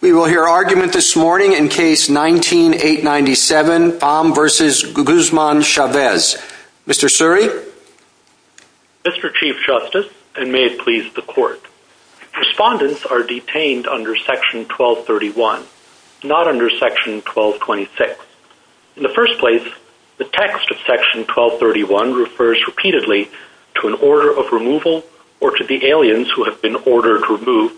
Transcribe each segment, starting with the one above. We will hear argument this morning in case 19-897, Pham v. Guzman Chavez. Mr. Suri? Mr. Chief Justice, and may it please the Court, Respondents are detained under Section 1231, not under Section 1226. In the first place, the text of Section 1231 refers repeatedly to an order of removal or to the aliens who have been ordered removed.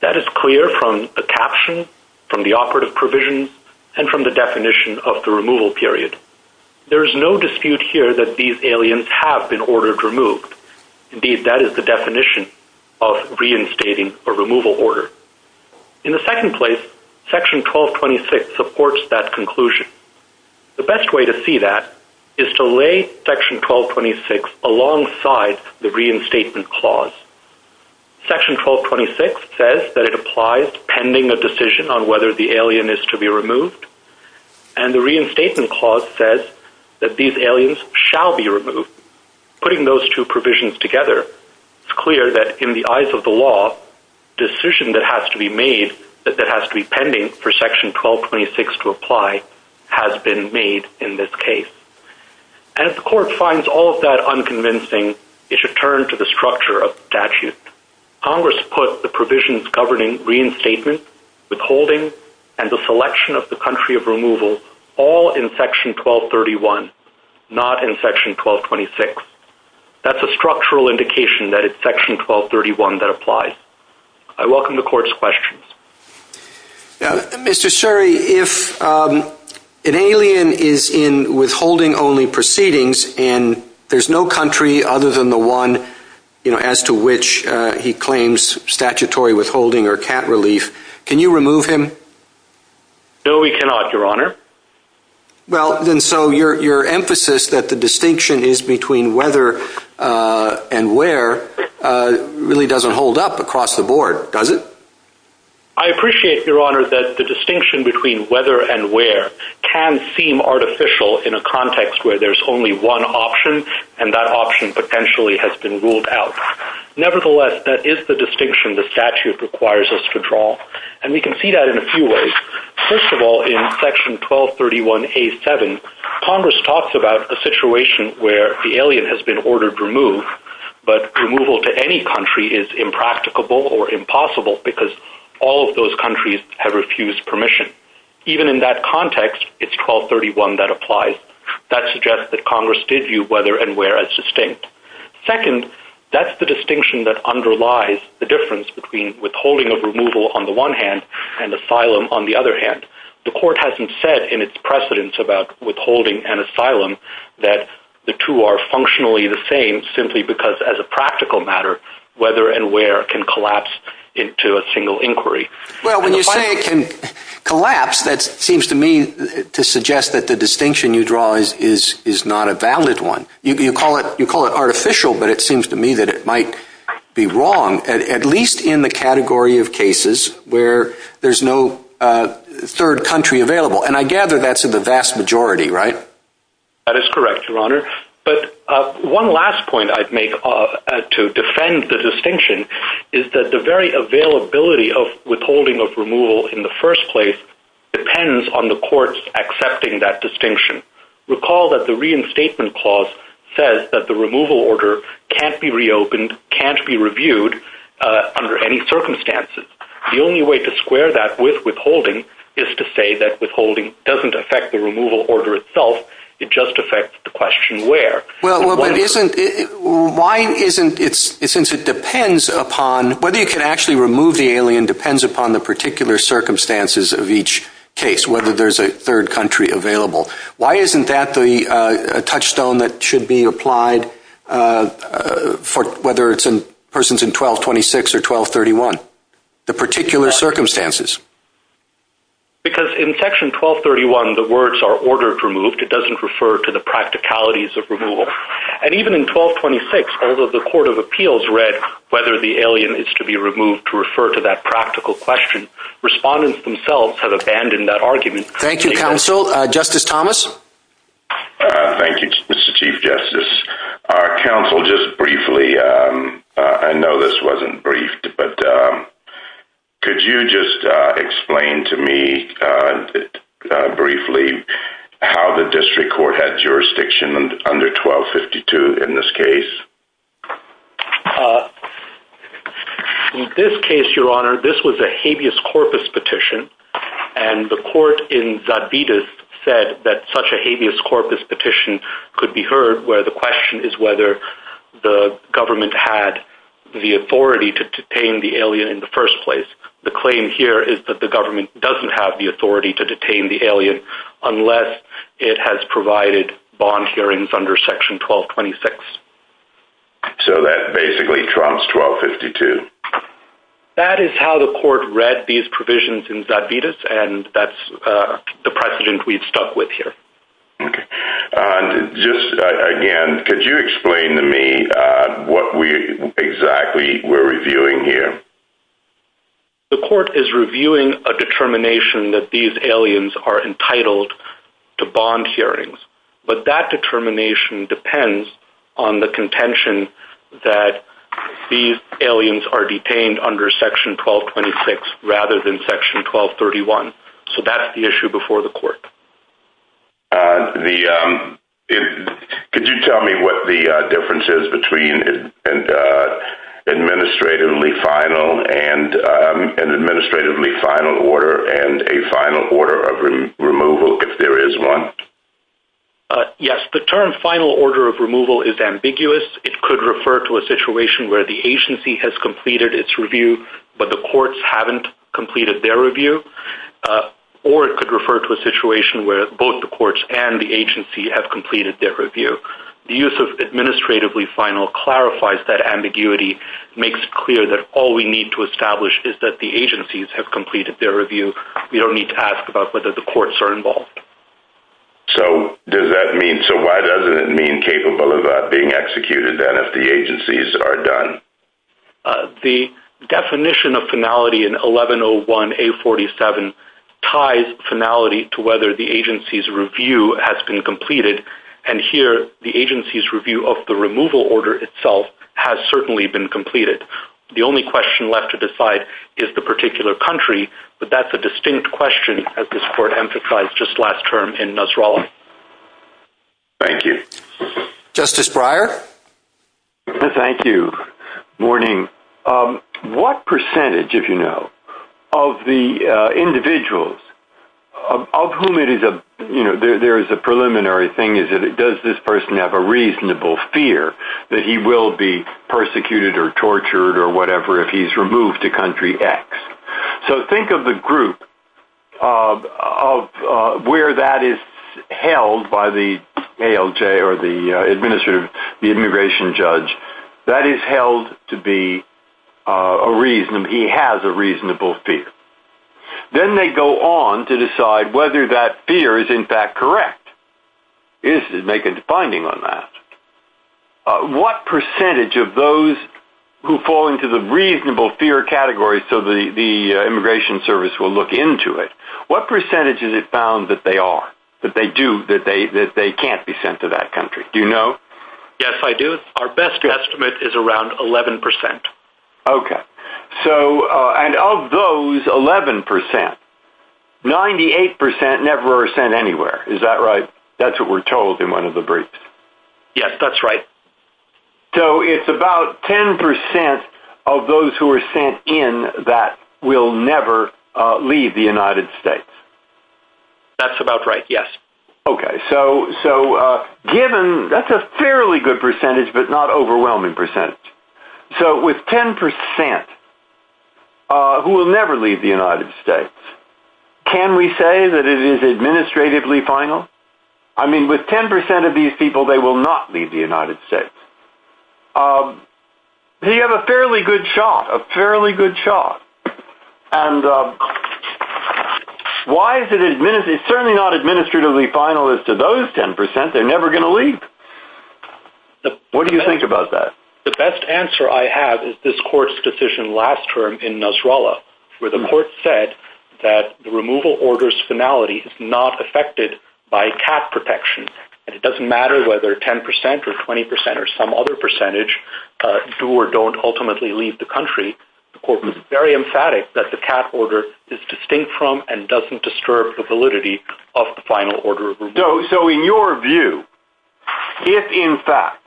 That is clear from the caption, from the operative provisions, and from the definition of the removal period. There is no dispute here that these aliens have been ordered removed. Indeed, that is the definition of reinstating a removal order. In the second place, Section 1226 supports that conclusion. The best way to see that is to lay Section 1226 alongside the reinstatement clause. Section 1226 says that it applies pending a decision on whether the alien is to be removed, and the reinstatement clause says that these aliens shall be removed. Putting those two provisions together, it is clear that in the eyes of the law, the decision that has to be pending for Section 1226 to apply has been made in this case. And if the Court finds all of that unconvincing, it should turn to the structure of the statute. Congress put the provisions governing reinstatement, withholding, and the selection of the country of removal, all in Section 1231, not in Section 1226. That is a structural indication that it is Section 1231 that applies. I welcome the Court's questions. Mr. Suri, if an alien is in withholding-only proceedings, and there is no country other than the one as to which he claims statutory withholding or cat relief, can you remove him? No, we cannot, Your Honor. Well, then so your emphasis that the distinction is between whether and where really doesn't hold up across the board, does it? I appreciate, Your Honor, that the distinction between whether and where can seem artificial in a context where there is only one option, and that option potentially has been ruled out. Nevertheless, that is the distinction the statute requires us to draw, and we can see that in a few ways. First of all, in Section 1231A.7, Congress talks about a situation where the alien has been ordered removed, but removal to any country is impracticable or impossible because all of those countries have refused permission. Even in that context, it's 1231 that applies. That suggests that Congress did view whether and where as distinct. Second, that's the distinction that underlies the difference between withholding of removal on the one hand and asylum on the other hand. The court hasn't said in its precedence about withholding and asylum that the two are functionally the same simply because as a practical matter, whether and where can collapse into a single inquiry. Well, when you say it can collapse, that seems to me to suggest that the distinction you draw is not a valid one. You call it artificial, but it seems to me that it might be wrong, at least in the category of cases where there's no third country available, and I gather that's in the vast majority, right? That is correct, Your Honor. But one last point I'd make to defend the distinction is that the very availability of withholding of removal in the first place depends on the courts accepting that distinction. Recall that the reinstatement clause says that the removal order can't be reopened, can't be reviewed under any circumstances. The only way to square that with withholding is to say that withholding doesn't affect the removal order itself. It just affects the question where. Well, but isn't – why isn't – since it depends upon – whether you can actually remove the alien depends upon the particular circumstances of each case, whether there's a third country available. Why isn't that the touchstone that should be applied for whether a person's in 1226 or 1231, the particular circumstances? Because in Section 1231, the words are ordered removed. It doesn't refer to the practicalities of removal. And even in 1226, although the Court of Appeals read whether the alien is to be removed to refer to that practical question, respondents themselves have abandoned that argument. Thank you, Counsel. Justice Thomas? Thank you, Mr. Chief Justice. Counsel, just briefly, I know this wasn't briefed, but could you just explain to me briefly how the district court had jurisdiction under 1252 in this case? In this case, Your Honor, this was a habeas corpus petition, and the court in Zadvitas said that such a habeas corpus petition could be heard where the question is whether the government had the authority to detain the alien in the first place. The claim here is that the government doesn't have the authority to detain the alien unless it has provided bond hearings under Section 1226. So that basically trumps 1252? That is how the court read these provisions in Zadvitas, and that's the precedent we've stuck with here. Okay. And just again, could you explain to me what exactly we're reviewing here? The court is reviewing a determination that these aliens are entitled to bond hearings, but that determination depends on the contention that these aliens are detained under Section 1226 rather than Section 1231. So that's the issue before the court. Could you tell me what the difference is between an administratively final order and a final order of removal, if there is one? Yes. The term final order of removal is ambiguous. It could refer to a situation where the agency has completed its review, but the courts haven't completed their review, or it could refer to a situation where both the courts and the agency have completed their review. The use of administratively final clarifies that ambiguity, makes it clear that all we need to establish is that the agencies have completed their review. We don't need to ask about whether the courts are involved. So why doesn't it mean capable of being executed, then, if the agencies are done? The definition of finality in 1101A47 ties finality to whether the agency's review has been completed, and here the agency's review of the removal order itself has certainly been completed. The only question left to decide is the particular country, but that's a distinct question, as this court emphasized just last term in Nasrallah. Thank you. Justice Breyer? Thank you. Good morning. What percentage, if you know, of the individuals of whom there is a preliminary thing, does this person have a reasonable fear that he will be persecuted or tortured or whatever if he's removed to country X? So think of the group of where that is held by the ALJ or the administrative, the immigration judge, that is held to be a reasonable, he has a reasonable fear. Then they go on to decide whether that fear is in fact correct. Is it making a finding on that? What percentage of those who fall into the reasonable fear category, so the immigration service will look into it, what percentage is it found that they are, that they do, that they can't be sent to that country? Do you know? Yes, I do. Our best estimate is around 11%. Okay. So, and of those 11%, 98% never are sent anywhere. Is that right? That's what we're told in one of the briefs. Yes, that's right. So it's about 10% of those who are sent in that will never leave the United States. That's about right, yes. Okay. So given, that's a fairly good percentage, but not overwhelming percentage. So with 10% who will never leave the United States, can we say that it is administratively final? I mean, with 10% of these people, they will not leave the United States. You have a fairly good shot, a fairly good shot. And why is it, it's certainly not administratively final as to those 10%, they're never going to leave. What do you think about that? The best answer I have is this court's decision last term in Nasrallah, where the court said that the removal order's finality is not affected by cat protection. And it doesn't matter whether 10% or 20% or some other percentage do or don't ultimately leave the country. The court was very emphatic that the cat order is distinct from and doesn't disturb the validity of the final order of removal. So in your view, if in fact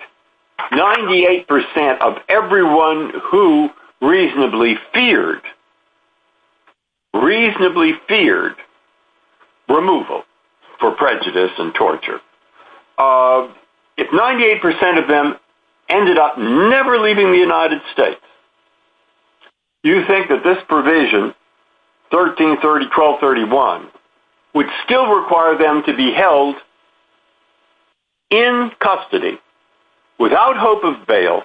98% of everyone who reasonably feared, reasonably feared removal for prejudice and torture, if 98% of them ended up never leaving the United States, do you think that this provision, 1331, would still require them to be held in custody without hope of bail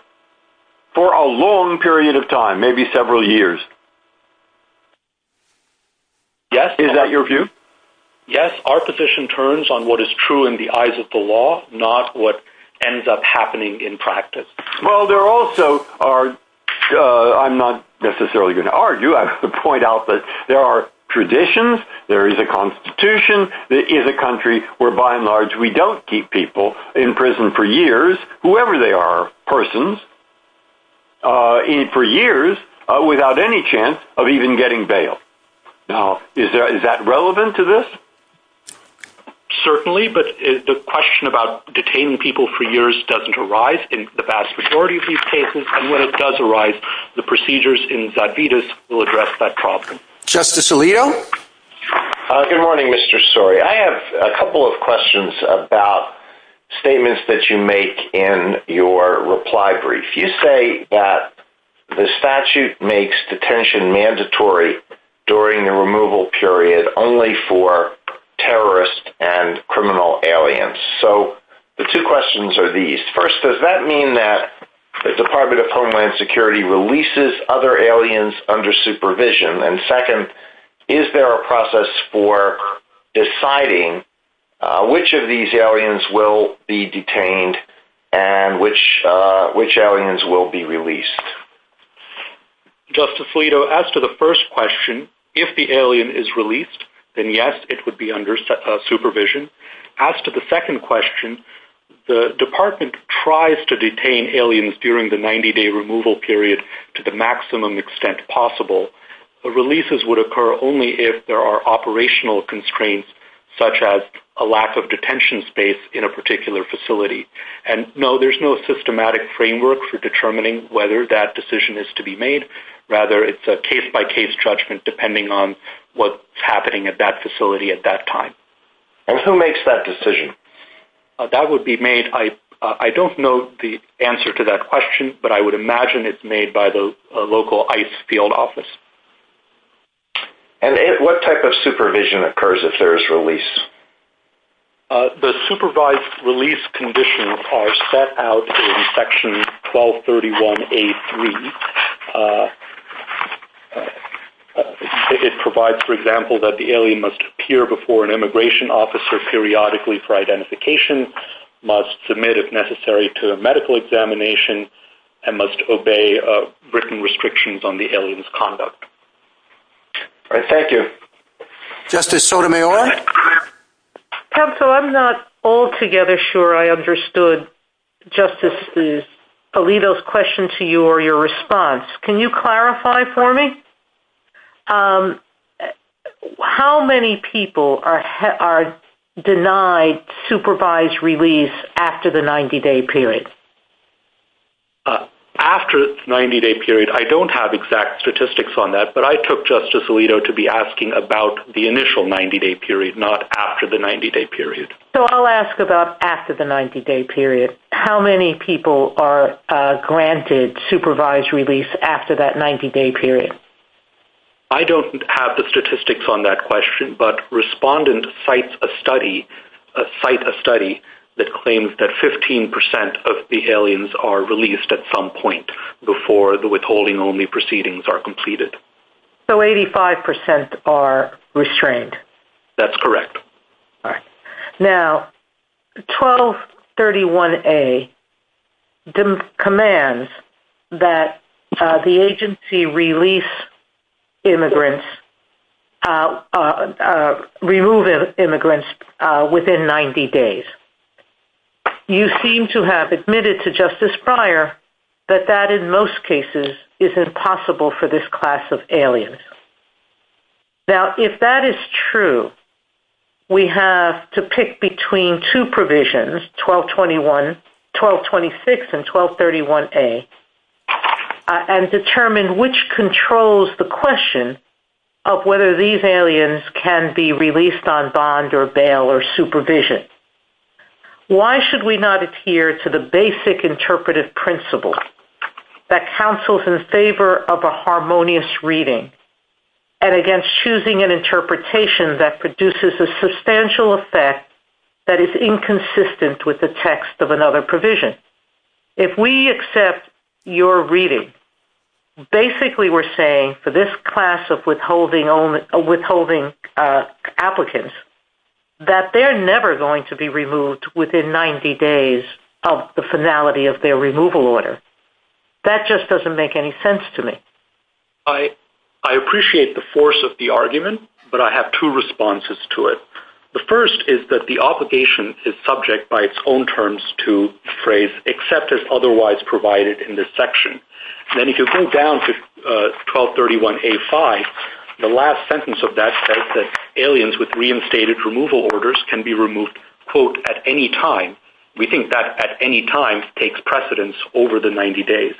for a long period of time, maybe several years? Yes. Is that your view? Yes, our position turns on what is true in the eyes of the law, not what ends up happening in practice. Well, there also are, I'm not necessarily going to argue, I would point out that there are traditions, there is a constitution, there is a country where by and large we don't keep people in prison for years, whoever they are, persons, for years, without any chance of even getting bail. Is that relevant to this? Certainly, but the question about detaining people for years doesn't arise in the vast majority of these cases, and when it does arise, the procedures in Zadvydas will address that problem. Justice Alito? Good morning, Mr. Story. I have a couple of questions about statements that you make in your reply brief. You say that the statute makes detention mandatory during the removal period only for terrorists and criminal aliens, so the two questions are these. First, does that mean that the Department of Homeland Security releases other aliens under supervision? And second, is there a process for deciding which of these aliens will be detained and which aliens will be released? Justice Alito, as to the first question, if the alien is released, then yes, it would be under supervision. As to the second question, the department tries to detain aliens during the 90-day removal period to the maximum extent possible. The releases would occur only if there are operational constraints, such as a lack of detention space in a particular facility. And no, there's no systematic framework for determining whether that decision is to be made. Rather, it's a case-by-case judgment depending on what's happening at that facility at that time. And who makes that decision? That would be made, I don't know the answer to that question, but I would imagine it's made by the local ICE field office. And what type of supervision occurs if there is release? The supervised release conditions are set out in Section 1231A3. It provides, for example, that the alien must appear before an immigration officer periodically for identification, must submit, if necessary, to a medical examination, and must obey written restrictions on the alien's conduct. All right, thank you. Justice Sotomayor? Temso, I'm not altogether sure I understood Justice Alito's question to you or your response. Can you clarify for me? How many people are denied supervised release after the 90-day period? After the 90-day period, I don't have exact statistics on that, but I took Justice Alito to be asking about the initial 90-day period, not after the 90-day period. So I'll ask about after the 90-day period. How many people are granted supervised release after that 90-day period? I don't have the statistics on that question, but Respondent cites a study that claims that 15% of the aliens are released at some point before the withholding-only proceedings are completed. So 85% are restrained? That's correct. Now, 1231A commands that the agency remove immigrants within 90 days. You seem to have admitted to Justice Breyer that that, in most cases, is impossible for this class of aliens. Now, if that is true, we have to pick between two provisions, 1226 and 1231A, and determine which controls the question of whether these aliens can be released on bond or bail or supervision. Why should we not adhere to the basic interpretive principle that counsels in favor of a harmonious reading and against choosing an interpretation that produces a substantial effect that is inconsistent with the text of another provision? If we accept your reading, basically we're saying for this class of withholding applicants that they're never going to be removed within 90 days of the finality of their removal order. That just doesn't make any sense to me. I appreciate the force of the argument, but I have two responses to it. The first is that the obligation is subject by its own terms to the phrase except as otherwise provided in this section. Then if you go down to 1231A5, the last sentence of that says that aliens with reinstated removal orders can be removed quote, at any time. We think that at any time takes precedence over the 90 days.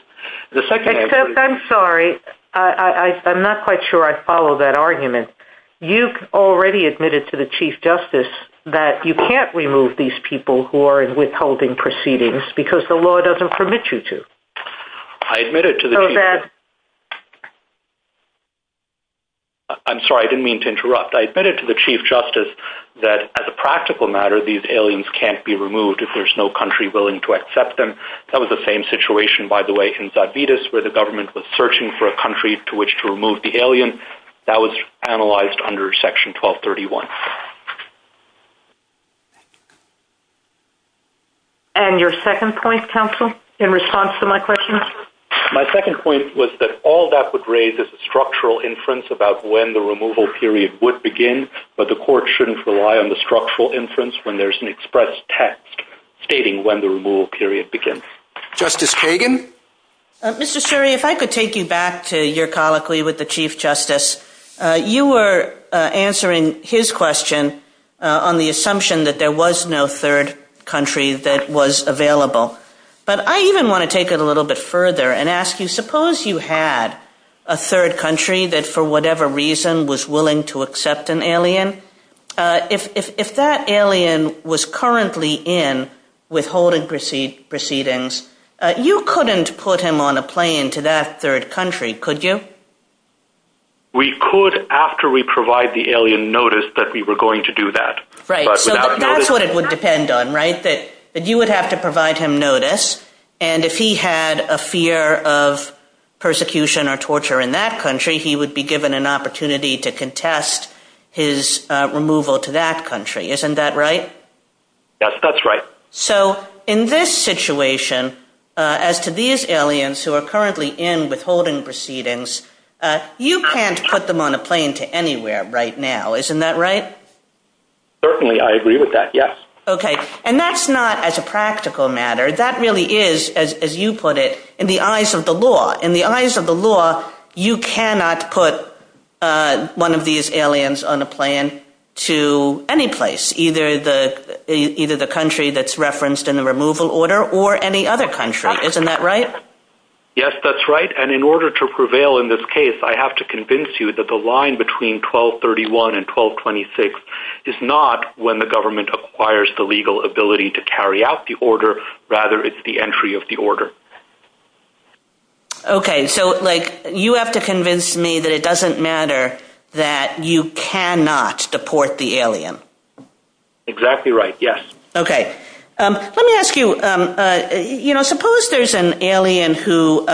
I'm sorry, I'm not quite sure I follow that argument. You've already admitted to the Chief Justice that you can't remove these people who are in withholding proceedings because the law doesn't permit you to. I admitted to the Chief Justice that as a practical matter, these aliens can't be removed if there's no country willing to accept them. That was the same situation, by the way, in Zabitis where the government was searching for a country to which to remove the alien. That was analyzed under Section 1231. And your second point, counsel, in response to my question? My second point was that all that would raise is a structural inference about when the removal period would begin, but the court shouldn't rely on the structural inference when there's an express text stating when the removal period begins. Justice Kagan? Mr. Suri, if I could take you back to your colloquy with the Chief Justice. You were answering his question on the assumption that there was no third country that was available, but I even want to take it a little bit further and ask you, suppose you had a third country that for whatever reason was willing to accept an alien. If that alien was currently in withholding proceedings, you couldn't put him on a plane to that third country, could you? We could after we provide the alien notice that we were going to do that. Right. So that's what it would depend on, right? That you would have to provide him notice. And if he had a fear of persecution or torture in that country, he would be given an opportunity to contest his removal to that country. Isn't that right? Yes, that's right. So in this situation, as to these aliens who are currently in withholding proceedings, you can't put them on a plane to anywhere right now. Isn't that right? Certainly. I agree with that. Yes. OK. And that's not as a practical matter. That really is, as you put it, in the eyes of the law. In the eyes of the law, you cannot put one of these aliens on a plane to any place, either the country that's referenced in the removal order or any other country. Isn't that right? Yes, that's right. And in order to prevail in this case, I have to convince you that the line between 1231 and 1226 is not when the government acquires the legal ability to carry out the order. Rather, it's the entry of the order. OK. So, like, you have to convince me that it doesn't matter that you cannot deport the alien. Exactly right. Yes. OK. Let me ask you, you know, suppose there's an alien who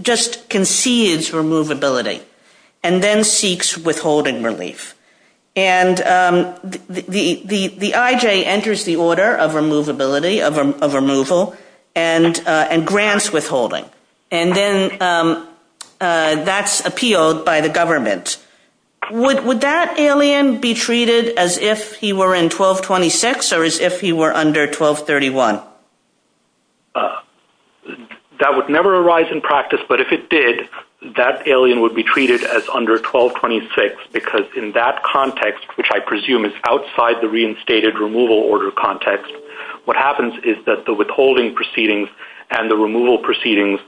just concedes removability and then seeks withholding relief. And the IJ enters the order of removability, of removal, and grants withholding. And then that's appealed by the government. Would that alien be treated as if he were in 1226 or as if he were under 1231? That would never arise in practice, but if it did, that alien would be treated as under 1226 because in that context, which I presume is outside the reinstated removal order context, what happens is that the withholding proceedings and the removal proceedings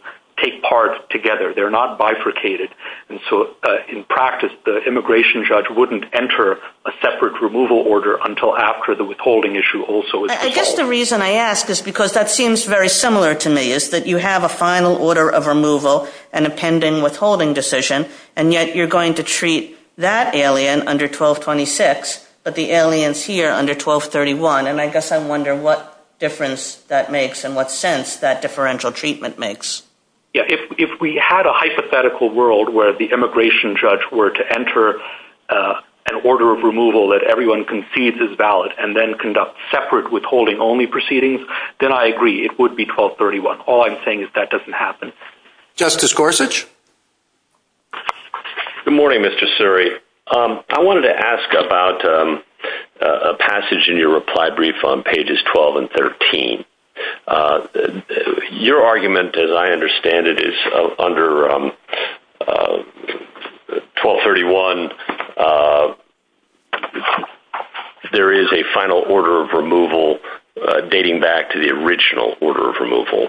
take part together. They're not bifurcated. And so, in practice, the immigration judge wouldn't enter a separate removal order until after the withholding issue also is withheld. I guess the reason I ask is because that seems very similar to me, is that you have a final order of removal and a pending withholding decision, and yet you're going to treat that alien under 1226, but the aliens here under 1231. And I guess I wonder what difference that makes and what sense that differential treatment makes. Yeah, if we had a hypothetical world where the immigration judge were to enter an order of removal that everyone concedes is valid and then conduct separate withholding-only proceedings, then I agree, it would be 1231. All I'm saying is that doesn't happen. Justice Gorsuch? Good morning, Mr. Suri. I wanted to ask about a passage in your reply brief on pages 12 and 13. Your argument, as I understand it, is under 1231 there is a final order of removal dating back to the original order of removal.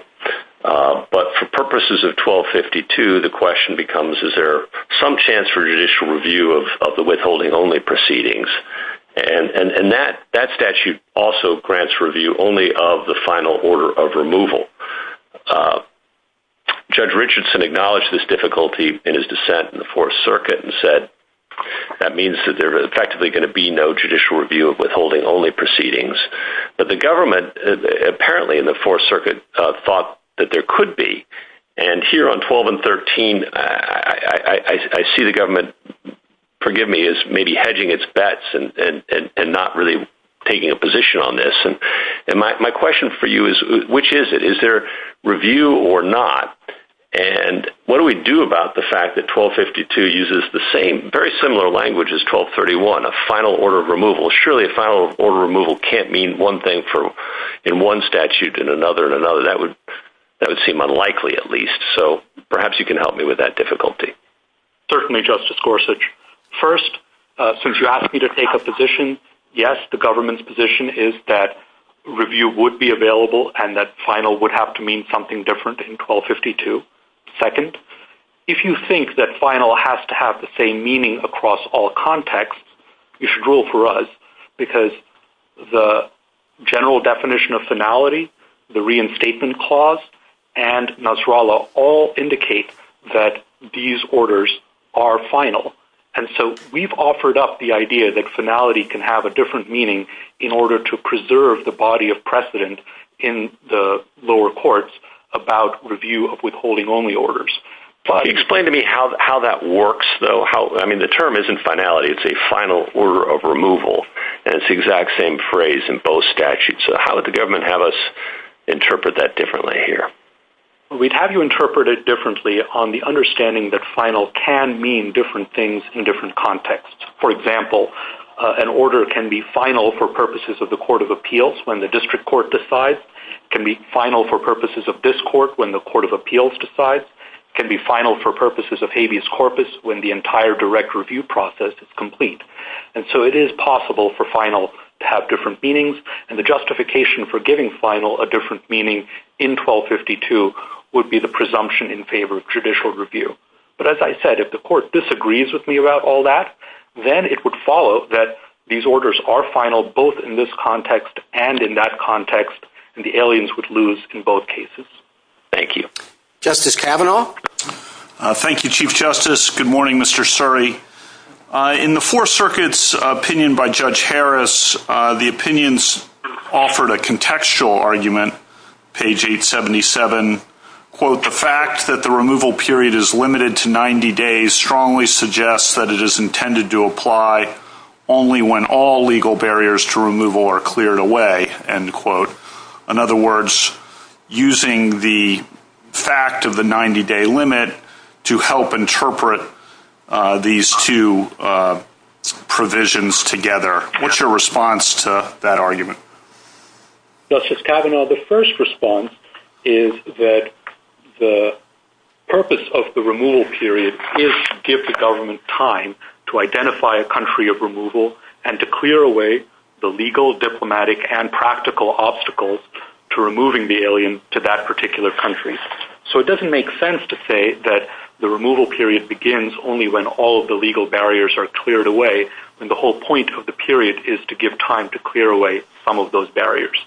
But for purposes of 1252, the question becomes, is there some chance for judicial review of the withholding-only proceedings? And that statute also grants review only of the final order of removal. Judge Richardson acknowledged this difficulty in his dissent in the Fourth Circuit and said that means that there is effectively going to be no judicial review of withholding-only proceedings. But the government apparently in the Fourth Circuit thought that there could be. And here on 12 and 13, I see the government, forgive me, is maybe hedging its bets and not really taking a position on this. And my question for you is, which is it? Is there review or not? And what do we do about the fact that 1252 uses the same, very similar language as 1231, a final order of removal? Surely a final order of removal can't mean one thing in one statute and another in another. That would seem unlikely, at least. So perhaps you can help me with that difficulty. Certainly, Justice Gorsuch. First, since you asked me to take a position, yes, the government's position is that review would be available and that final would have to mean something different in 1252. Second, if you think that final has to have the same meaning across all contexts, you should rule for us because the general definition of finality, the reinstatement clause, and Nasrallah all indicate that these orders are final. And so we've offered up the idea that finality can have a different meaning in order to preserve the body of precedent in the lower courts about review of withholding-only orders. Explain to me how that works, though. I mean, the term isn't finality. It's a final order of removal, and it's the exact same phrase in both statutes. So how would the government have us interpret that differently here? We'd have you interpret it differently on the understanding that final can mean different things in different contexts. For example, an order can be final for purposes of the Court of Appeals when the district court decides, can be final for purposes of this court when the Court of Appeals decides, can be final for purposes of habeas corpus when the entire direct review process is complete. And so it is possible for final to have different meanings, and the justification for giving final a different meaning in 1252 would be the presumption in favor of judicial review. But as I said, if the court disagrees with me about all that, then it would follow that these orders are final both in this context and in that context, and the aliens would lose in both cases. Thank you. Justice Kavanaugh. Thank you, Chief Justice. Good morning, Mr. Suri. In the Four Circuit's opinion by Judge Harris, the opinions offered a contextual argument, page 877. Quote, the fact that the removal period is limited to 90 days strongly suggests that it is intended to apply only when all legal barriers to removal are cleared away, end quote. In other words, using the fact of the 90-day limit to help interpret these two provisions together. What's your response to that argument? Justice Kavanaugh, the first response is that the purpose of the removal period is to give the government time to identify a country of removal and to clear away the legal, diplomatic, and practical obstacles to removing the alien to that particular country. So it doesn't make sense to say that the removal period begins only when all of the legal barriers are cleared away, when the whole point of the period is to give time to clear away some of those barriers.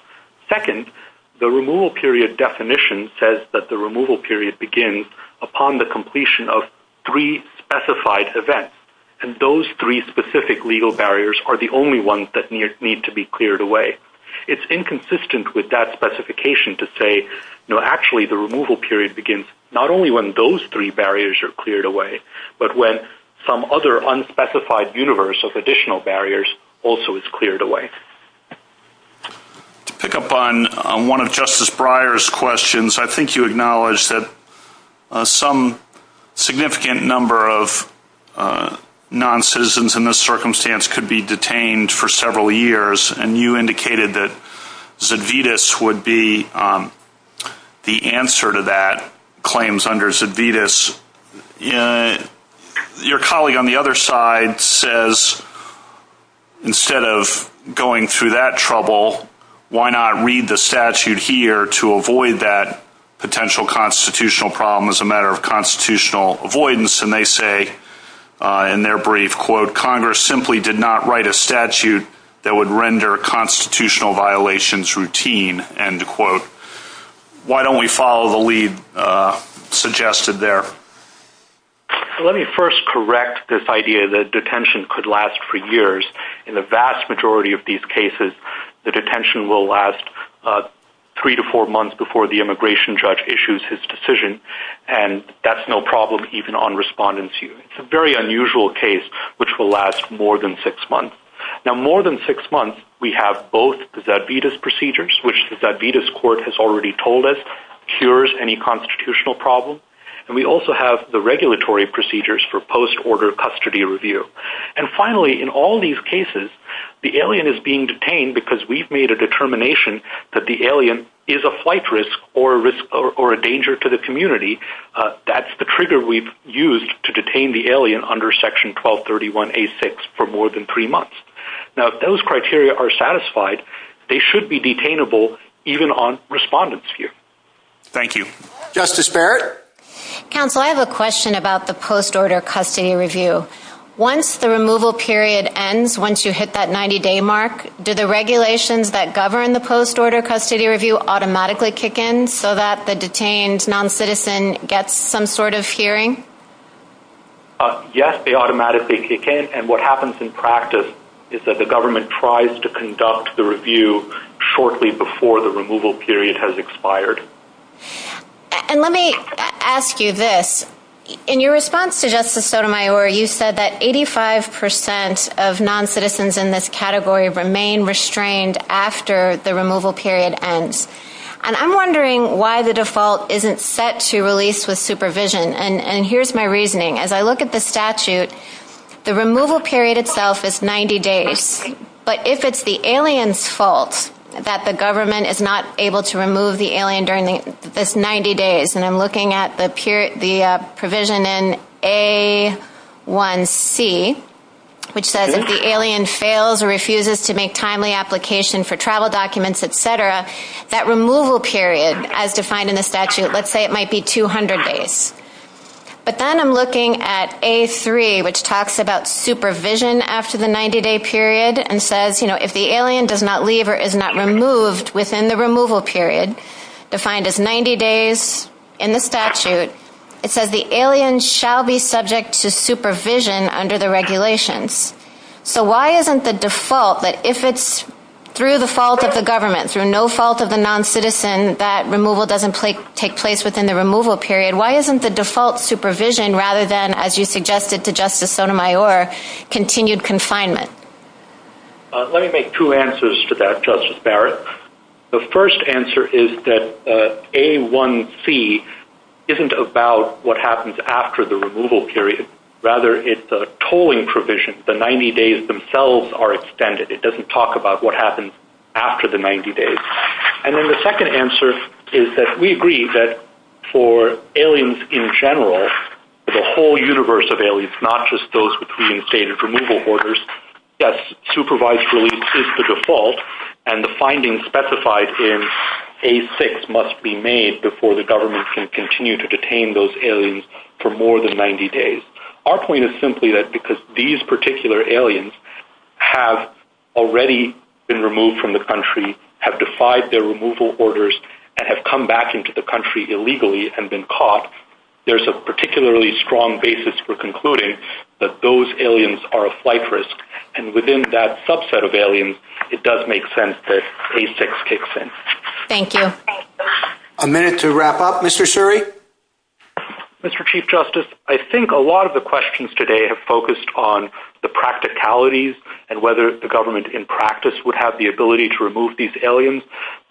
Second, the removal period definition says that the removal period begins upon the completion of three specified events, and those three specific legal barriers are the only ones that need to be cleared away. It's inconsistent with that specification to say, no, actually the removal period begins not only when those three barriers are cleared away, but when some other unspecified universe of additional barriers also is cleared away. To pick up on one of Justice Breyer's questions, I think you acknowledged that some significant number of non-citizens in this circumstance could be detained for several years, and you indicated that Zedvitas would be the answer to that claims under Zedvitas. Your colleague on the other side says, instead of going through that trouble, why not read the statute here to avoid that potential constitutional problem as a matter of constitutional avoidance, and they say in their brief, quote, Congress simply did not write a statute that would render constitutional violations routine, end quote. Why don't we follow the lead suggested there? Let me first correct this idea that detention could last for years. In the vast majority of these cases, the detention will last three to four months before the immigration judge issues his decision, and that's no problem even on respondents. It's a very unusual case, which will last more than six months. Now, more than six months, we have both the Zedvitas procedures, which the Zedvitas court has already told us cures any constitutional problem, and we also have the regulatory procedures for post-order custody review. And finally, in all these cases, the alien is being detained because we've made a determination that the alien is a flight risk or a danger to the community. That's the trigger we've used to detain the alien under Section 1231A6 for more than three months. Now, if those criteria are satisfied, they should be detainable even on respondents here. Thank you. Justice Barrett? Counsel, I have a question about the post-order custody review. Once the removal period ends, once you hit that 90-day mark, do the regulations that govern the post-order custody review automatically kick in so that the detained noncitizen gets some sort of hearing? Yes, they automatically kick in, and what happens in practice is that the government tries to conduct the review shortly before the removal period has expired. And let me ask you this. In your response to Justice Sotomayor, you said that 85% of noncitizens in this category remain restrained after the removal period ends. And I'm wondering why the default isn't set to release with supervision, and here's my reasoning. As I look at the statute, the removal period itself is 90 days. But if it's the alien's fault that the government is not able to remove the alien during this 90 days, and I'm looking at the provision in A1C, which says if the alien fails or refuses to make timely application for travel documents, etc., that removal period, as defined in the statute, let's say it might be 200 days. But then I'm looking at A3, which talks about supervision after the 90-day period and says, you know, if the alien does not leave or is not removed within the removal period, defined as 90 days in the statute, it says the alien shall be subject to supervision under the regulations. So why isn't the default that if it's through the fault of the government, through no fault of the noncitizen, that removal doesn't take place within the removal period? Why isn't the default supervision rather than, as you suggested to Justice Sotomayor, continued confinement? Let me make two answers to that, Justice Barrett. The first answer is that A1C isn't about what happens after the removal period. Rather, it's a tolling provision. The 90 days themselves are extended. It doesn't talk about what happens after the 90 days. And then the second answer is that we agree that for aliens in general, for the whole universe of aliens, not just those with preinstated removal orders, yes, supervised release is the default, and the findings specified in A6 must be made before the government can continue to detain those aliens for more than 90 days. Our point is simply that because these particular aliens have already been removed from the country, have defied their removal orders, and have come back into the country illegally and been caught, there's a particularly strong basis for concluding that those aliens are a flight risk. And within that subset of aliens, it does make sense that A6 kicks in. Thank you. A minute to wrap up. Mr. Shuri? Mr. Chief Justice, I think a lot of the questions today have focused on the practicalities and whether the government in practice would have the ability to remove these aliens.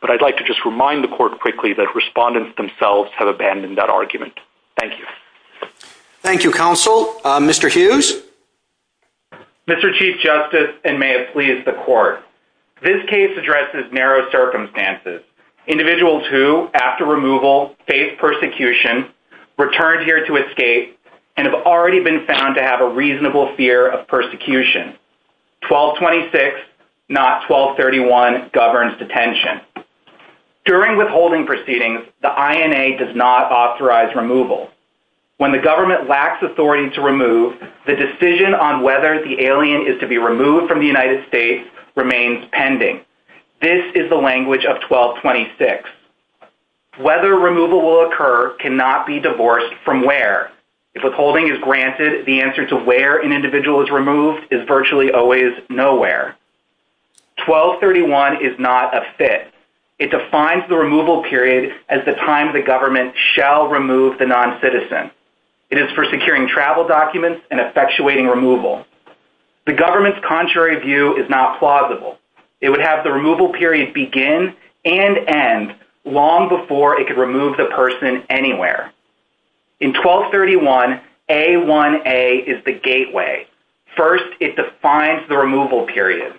But I'd like to just remind the court quickly that respondents themselves have abandoned that argument. Thank you. Thank you, Counsel. Mr. Hughes? Mr. Chief Justice, and may it please the court, this case addresses narrow circumstances. Individuals who, after removal, face persecution, return here to escape, and have already been found to have a reasonable fear of persecution. 1226, not 1231, governs detention. During withholding proceedings, the INA does not authorize removal. When the government lacks authority to remove, the decision on whether the alien is to be removed from the United States remains pending. This is the language of 1226. Whether removal will occur cannot be divorced from where. If withholding is granted, the answer to where an individual is removed is virtually always nowhere. 1231 is not a fit. It defines the removal period as the time the government shall remove the noncitizen. It is for securing travel documents and effectuating removal. The government's contrary view is not plausible. It would have the removal period begin and end long before it could remove the person anywhere. In 1231, A1A is the gateway. First, it defines the removal period.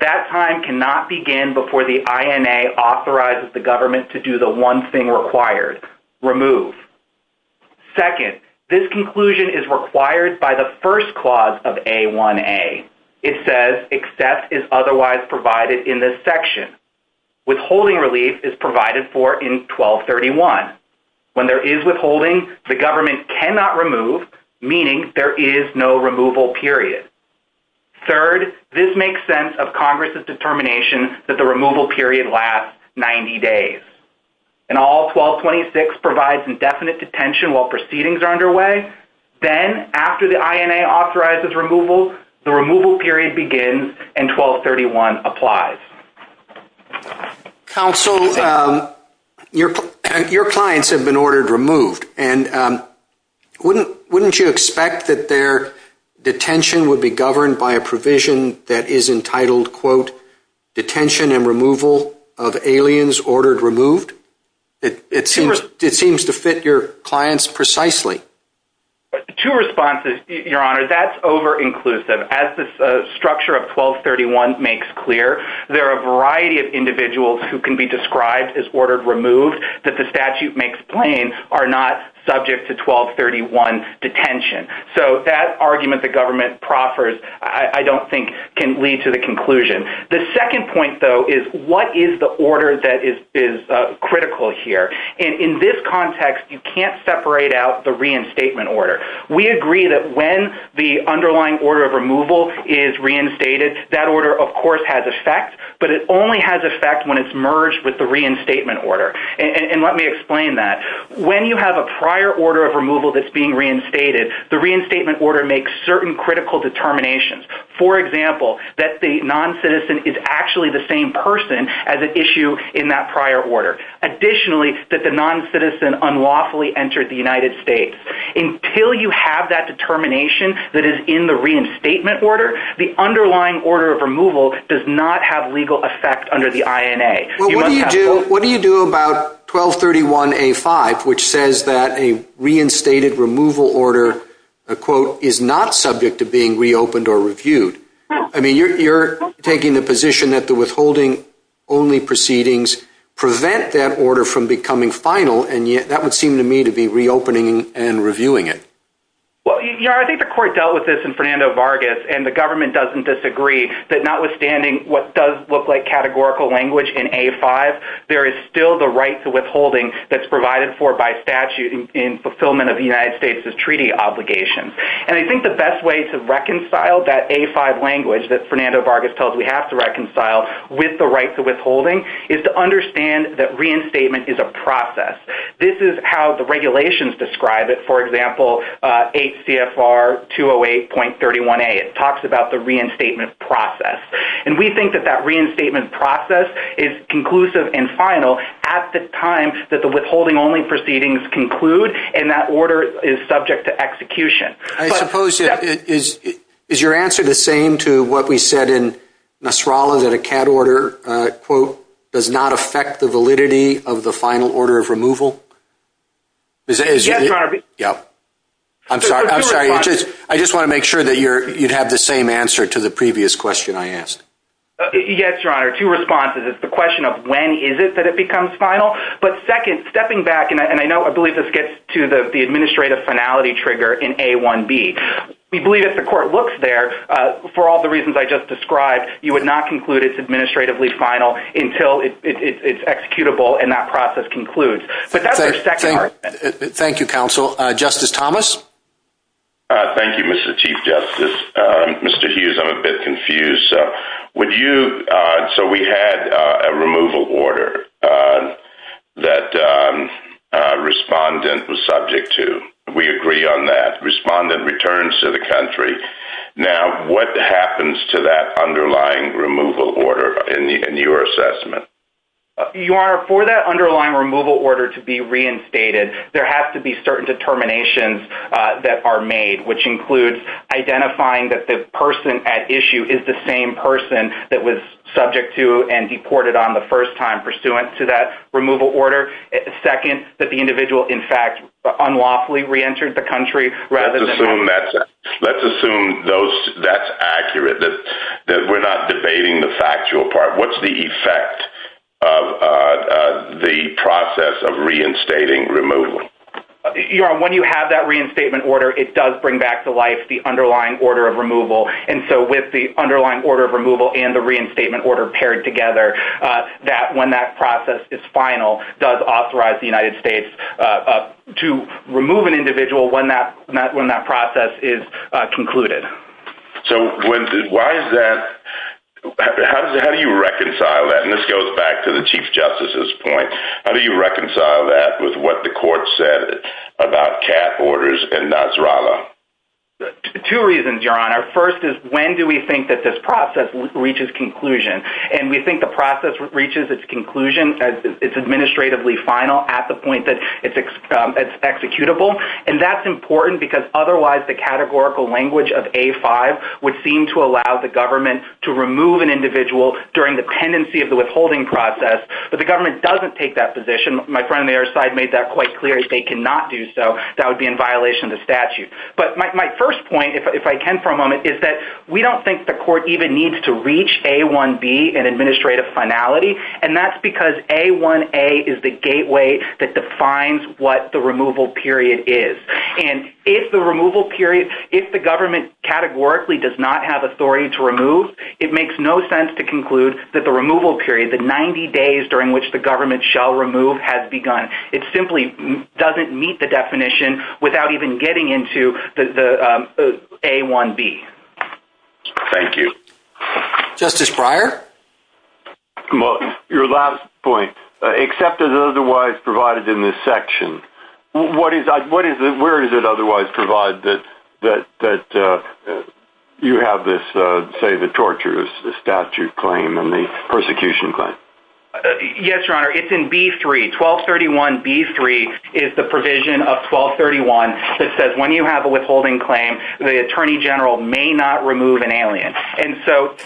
That time cannot begin before the INA authorizes the government to do the one thing required, remove. Second, this conclusion is required by the first clause of A1A. Finally, it says except is otherwise provided in this section. Withholding relief is provided for in 1231. When there is withholding, the government cannot remove, meaning there is no removal period. Third, this makes sense of Congress's determination that the removal period lasts 90 days. And all 1226 provides indefinite detention while proceedings are underway. Then, after the INA authorizes removal, the removal period begins and 1231 applies. Counsel, your clients have been ordered removed. And wouldn't you expect that their detention would be governed by a provision that is entitled, quote, detention and removal of aliens ordered removed? It seems to fit your clients precisely. Two responses, Your Honor. That's overinclusive. As the structure of 1231 makes clear, there are a variety of individuals who can be described as ordered removed that the statute makes plain are not subject to 1231 detention. So that argument the government proffers, I don't think, can lead to the conclusion. The second point, though, is what is the order that is critical here? In this context, you can't separate out the reinstatement order. We agree that when the underlying order of removal is reinstated, that order, of course, has effect. But it only has effect when it's merged with the reinstatement order. And let me explain that. When you have a prior order of removal that's being reinstated, the reinstatement order makes certain critical determinations. For example, that the noncitizen is actually the same person as an issue in that prior order. Additionally, that the noncitizen unlawfully entered the United States. Until you have that determination that is in the reinstatement order, the underlying order of removal does not have legal effect under the INA. Well, what do you do about 1231A5, which says that a reinstated removal order, a quote, is not subject to being reopened or reviewed? I mean, you're taking the position that the withholding only proceedings prevent that order from becoming final. And yet that would seem to me to be reopening and reviewing it. Well, I think the court dealt with this in Fernando Vargas. And the government doesn't disagree that notwithstanding what does look like categorical language in A5, there is still the right to withholding that's provided for by statute in fulfillment of the United States' treaty obligations. And I think the best way to reconcile that A5 language that Fernando Vargas tells we have to reconcile with the right to withholding is to understand that reinstatement is a process. This is how the regulations describe it. For example, 8 CFR 208.31A. It talks about the reinstatement process. And we think that that reinstatement process is conclusive and final at the time that the withholding only proceedings conclude and that order is subject to execution. I suppose is your answer the same to what we said in Nasrallah that a CAD order, quote, does not affect the validity of the final order of removal? Yes, Your Honor. I'm sorry. I just want to make sure that you'd have the same answer to the previous question I asked. Yes, Your Honor. Two responses. It's the question of when is it that it becomes final. But second, stepping back, and I know I believe this gets to the administrative finality trigger in A1B. We believe if the court looks there, for all the reasons I just described, you would not conclude it's administratively final until it's executable and that process concludes. Thank you, counsel. Justice Thomas? Thank you, Mr. Chief Justice. Mr. Hughes, I'm a bit confused. So we had a removal order that a respondent was subject to. We agree on that. Respondent returns to the country. Now, what happens to that underlying removal order in your assessment? Your Honor, for that underlying removal order to be reinstated, there have to be certain determinations that are made, which includes identifying that the person at issue is the same person that was subject to and deported on the first time pursuant to that removal order. Second, that the individual, in fact, unlawfully reentered the country. Let's assume that's accurate, that we're not debating the factual part. What's the effect of the process of reinstating removal? Your Honor, when you have that reinstatement order, it does bring back to life the underlying order of removal. And so with the underlying order of removal and the reinstatement order paired together, when that process is final, it does authorize the United States to remove an individual when that process is concluded. So why is that? How do you reconcile that? And this goes back to the Chief Justice's point. How do you reconcile that with what the court said about CAT orders and Nasrallah? Two reasons, Your Honor. First is, when do we think that this process reaches conclusion? And we think the process reaches its conclusion, its administratively final, at the point that it's executable. And that's important because otherwise the categorical language of A-5 would seem to allow the government to remove an individual during the pendency of the withholding process. But the government doesn't take that position. My friend on the other side made that quite clear. If they cannot do so, that would be in violation of the statute. But my first point, if I can for a moment, is that we don't think the court even needs to reach A-1B, an administrative finality, and that's because A-1A is the gateway that defines what the removal period is. And if the removal period, if the government categorically does not have authority to remove, it makes no sense to conclude that the removal period, the 90 days during which the government shall remove, has begun. It simply doesn't meet the definition without even getting into the A-1B. Thank you. Justice Breyer? Your last point, except as otherwise provided in this section, where is it otherwise provided that you have this, say, the torture statute claim and the persecution claim? Yes, Your Honor, it's in B-3. 1231B-3 is the provision of 1231 that says when you have a withholding claim, the attorney general may not remove an alien. And so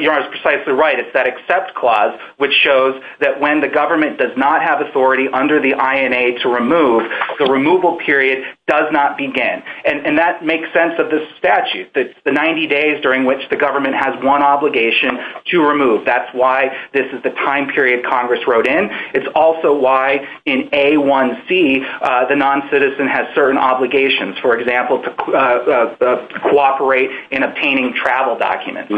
Your Honor is precisely right. It's that except clause which shows that when the government does not have authority under the INA to remove, the removal period does not begin. And that makes sense of this statute, the 90 days during which the government has one obligation to remove. That's why this is the time period Congress wrote in. It's also why in A-1C the noncitizen has certain obligations, for example, to cooperate in obtaining travel documents.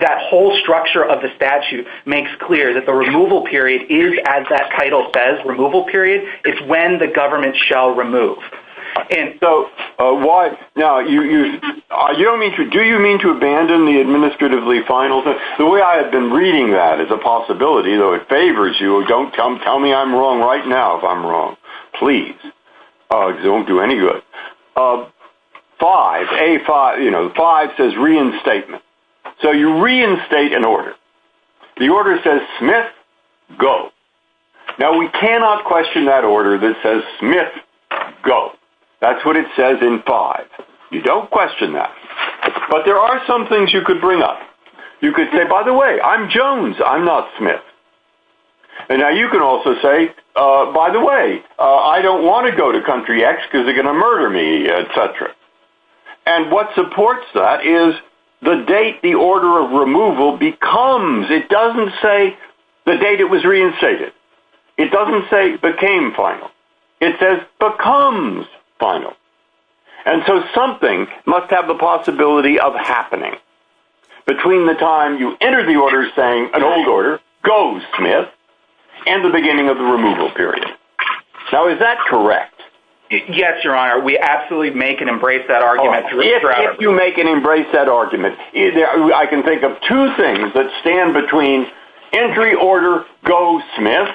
That whole structure of the statute makes clear that the removal period is, as that title says, removal period is when the government shall remove. Now, do you mean to abandon the administratively final? The way I have been reading that is a possibility, though it favors you. Don't tell me I'm wrong right now if I'm wrong. Please. It won't do any good. A-5 says reinstatement. So you reinstate an order. The order says Smith, go. Now, we cannot question that order that says Smith, go. That's what it says in 5. You don't question that. But there are some things you could bring up. You could say, by the way, I'm Jones. I'm not Smith. And now you could also say, by the way, I don't want to go to country X because they're going to murder me, et cetera. And what supports that is the date the order of removal becomes. It doesn't say the date it was reinstated. It doesn't say became final. It says becomes final. And so something must have the possibility of happening. Between the time you enter the order saying an old order, go Smith, and the beginning of the removal period. Now, is that correct? Yes, Your Honor. We absolutely make and embrace that argument. If you make and embrace that argument, I can think of two things that stand between entry order, go Smith,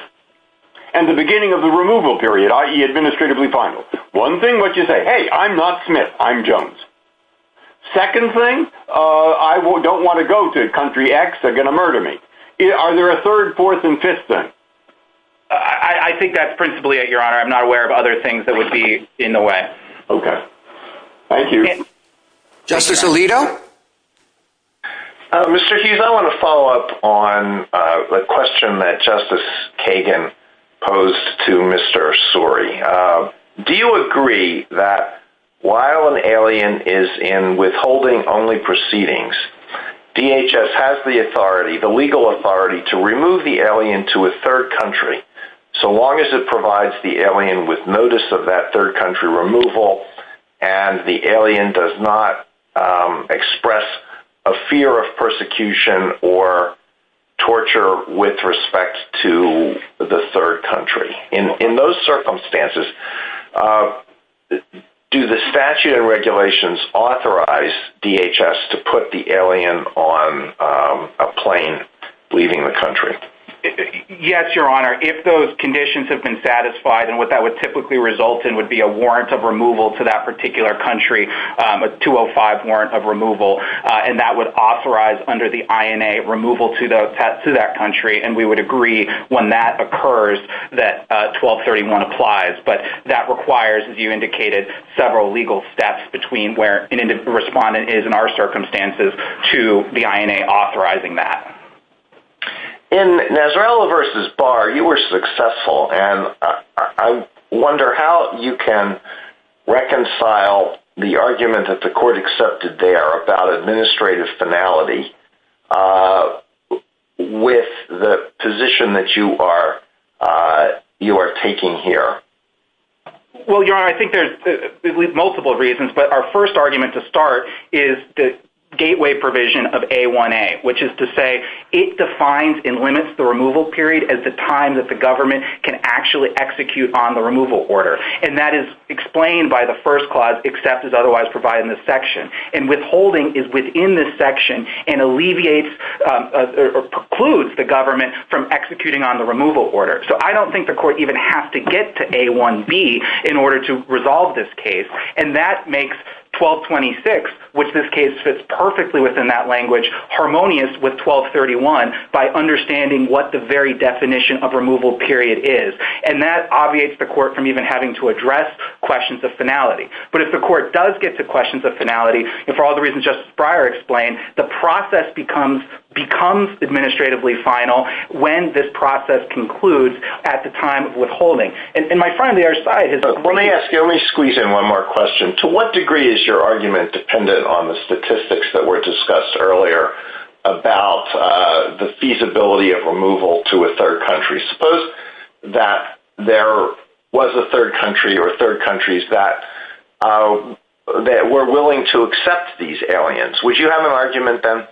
and the beginning of the removal period, i.e., administratively final. One thing, what you say, hey, I'm not Smith. I'm Jones. Second thing, I don't want to go to country X. They're going to murder me. Are there a third, fourth, and fifth thing? I think that's principally it, Your Honor. I'm not aware of other things that would be in the way. Okay. Thank you. Justice Alito? Mr. Hughes, I want to follow up on the question that Justice Kagan posed to Mr. Suri. Do you agree that while an alien is in withholding only proceedings, DHS has the authority, the legal authority, to remove the alien to a third country so long as it provides the alien with notice of that third country removal and the alien does not express a fear of persecution or torture with respect to the third country? In those circumstances, do the statute and regulations authorize DHS to put the alien on a plane leaving the country? Yes, Your Honor. If those conditions have been satisfied, and what that would typically result in would be a warrant of removal to that particular country, a 205 warrant of removal, and that would authorize under the INA removal to that country, and we would agree when that occurs that 1231 applies. But that requires, as you indicated, several legal steps between where an individual respondent is in our circumstances to the INA authorizing that. In Nasrella v. Barr, you were successful, and I wonder how you can reconcile the argument that the court accepted there about administrative finality with the position that you are taking here. Well, Your Honor, I think there's multiple reasons, but our first argument to start is the gateway provision of A1A, which is to say it defines and limits the removal period at the time that the government can actually execute on the removal order. And that is explained by the first clause, except as otherwise provided in this section. And withholding is within this section and alleviates or precludes the government from executing on the removal order. So I don't think the court even has to get to A1B in order to resolve this case, and that makes 1226, which this case fits perfectly within that language, harmonious with 1231 by understanding what the very definition of removal period is. And that obviates the court from even having to address questions of finality. But if the court does get to questions of finality, and for all the reasons Justice Breyer explained, the process becomes administratively final when this process concludes at the time of withholding. And my friend on the other side has a question. Let me ask you, let me squeeze in one more question. To what degree is your argument dependent on the statistics that were discussed earlier about the feasibility of removal to a third country? Suppose that there was a third country or third countries that were willing to accept these aliens. Would you have an argument then?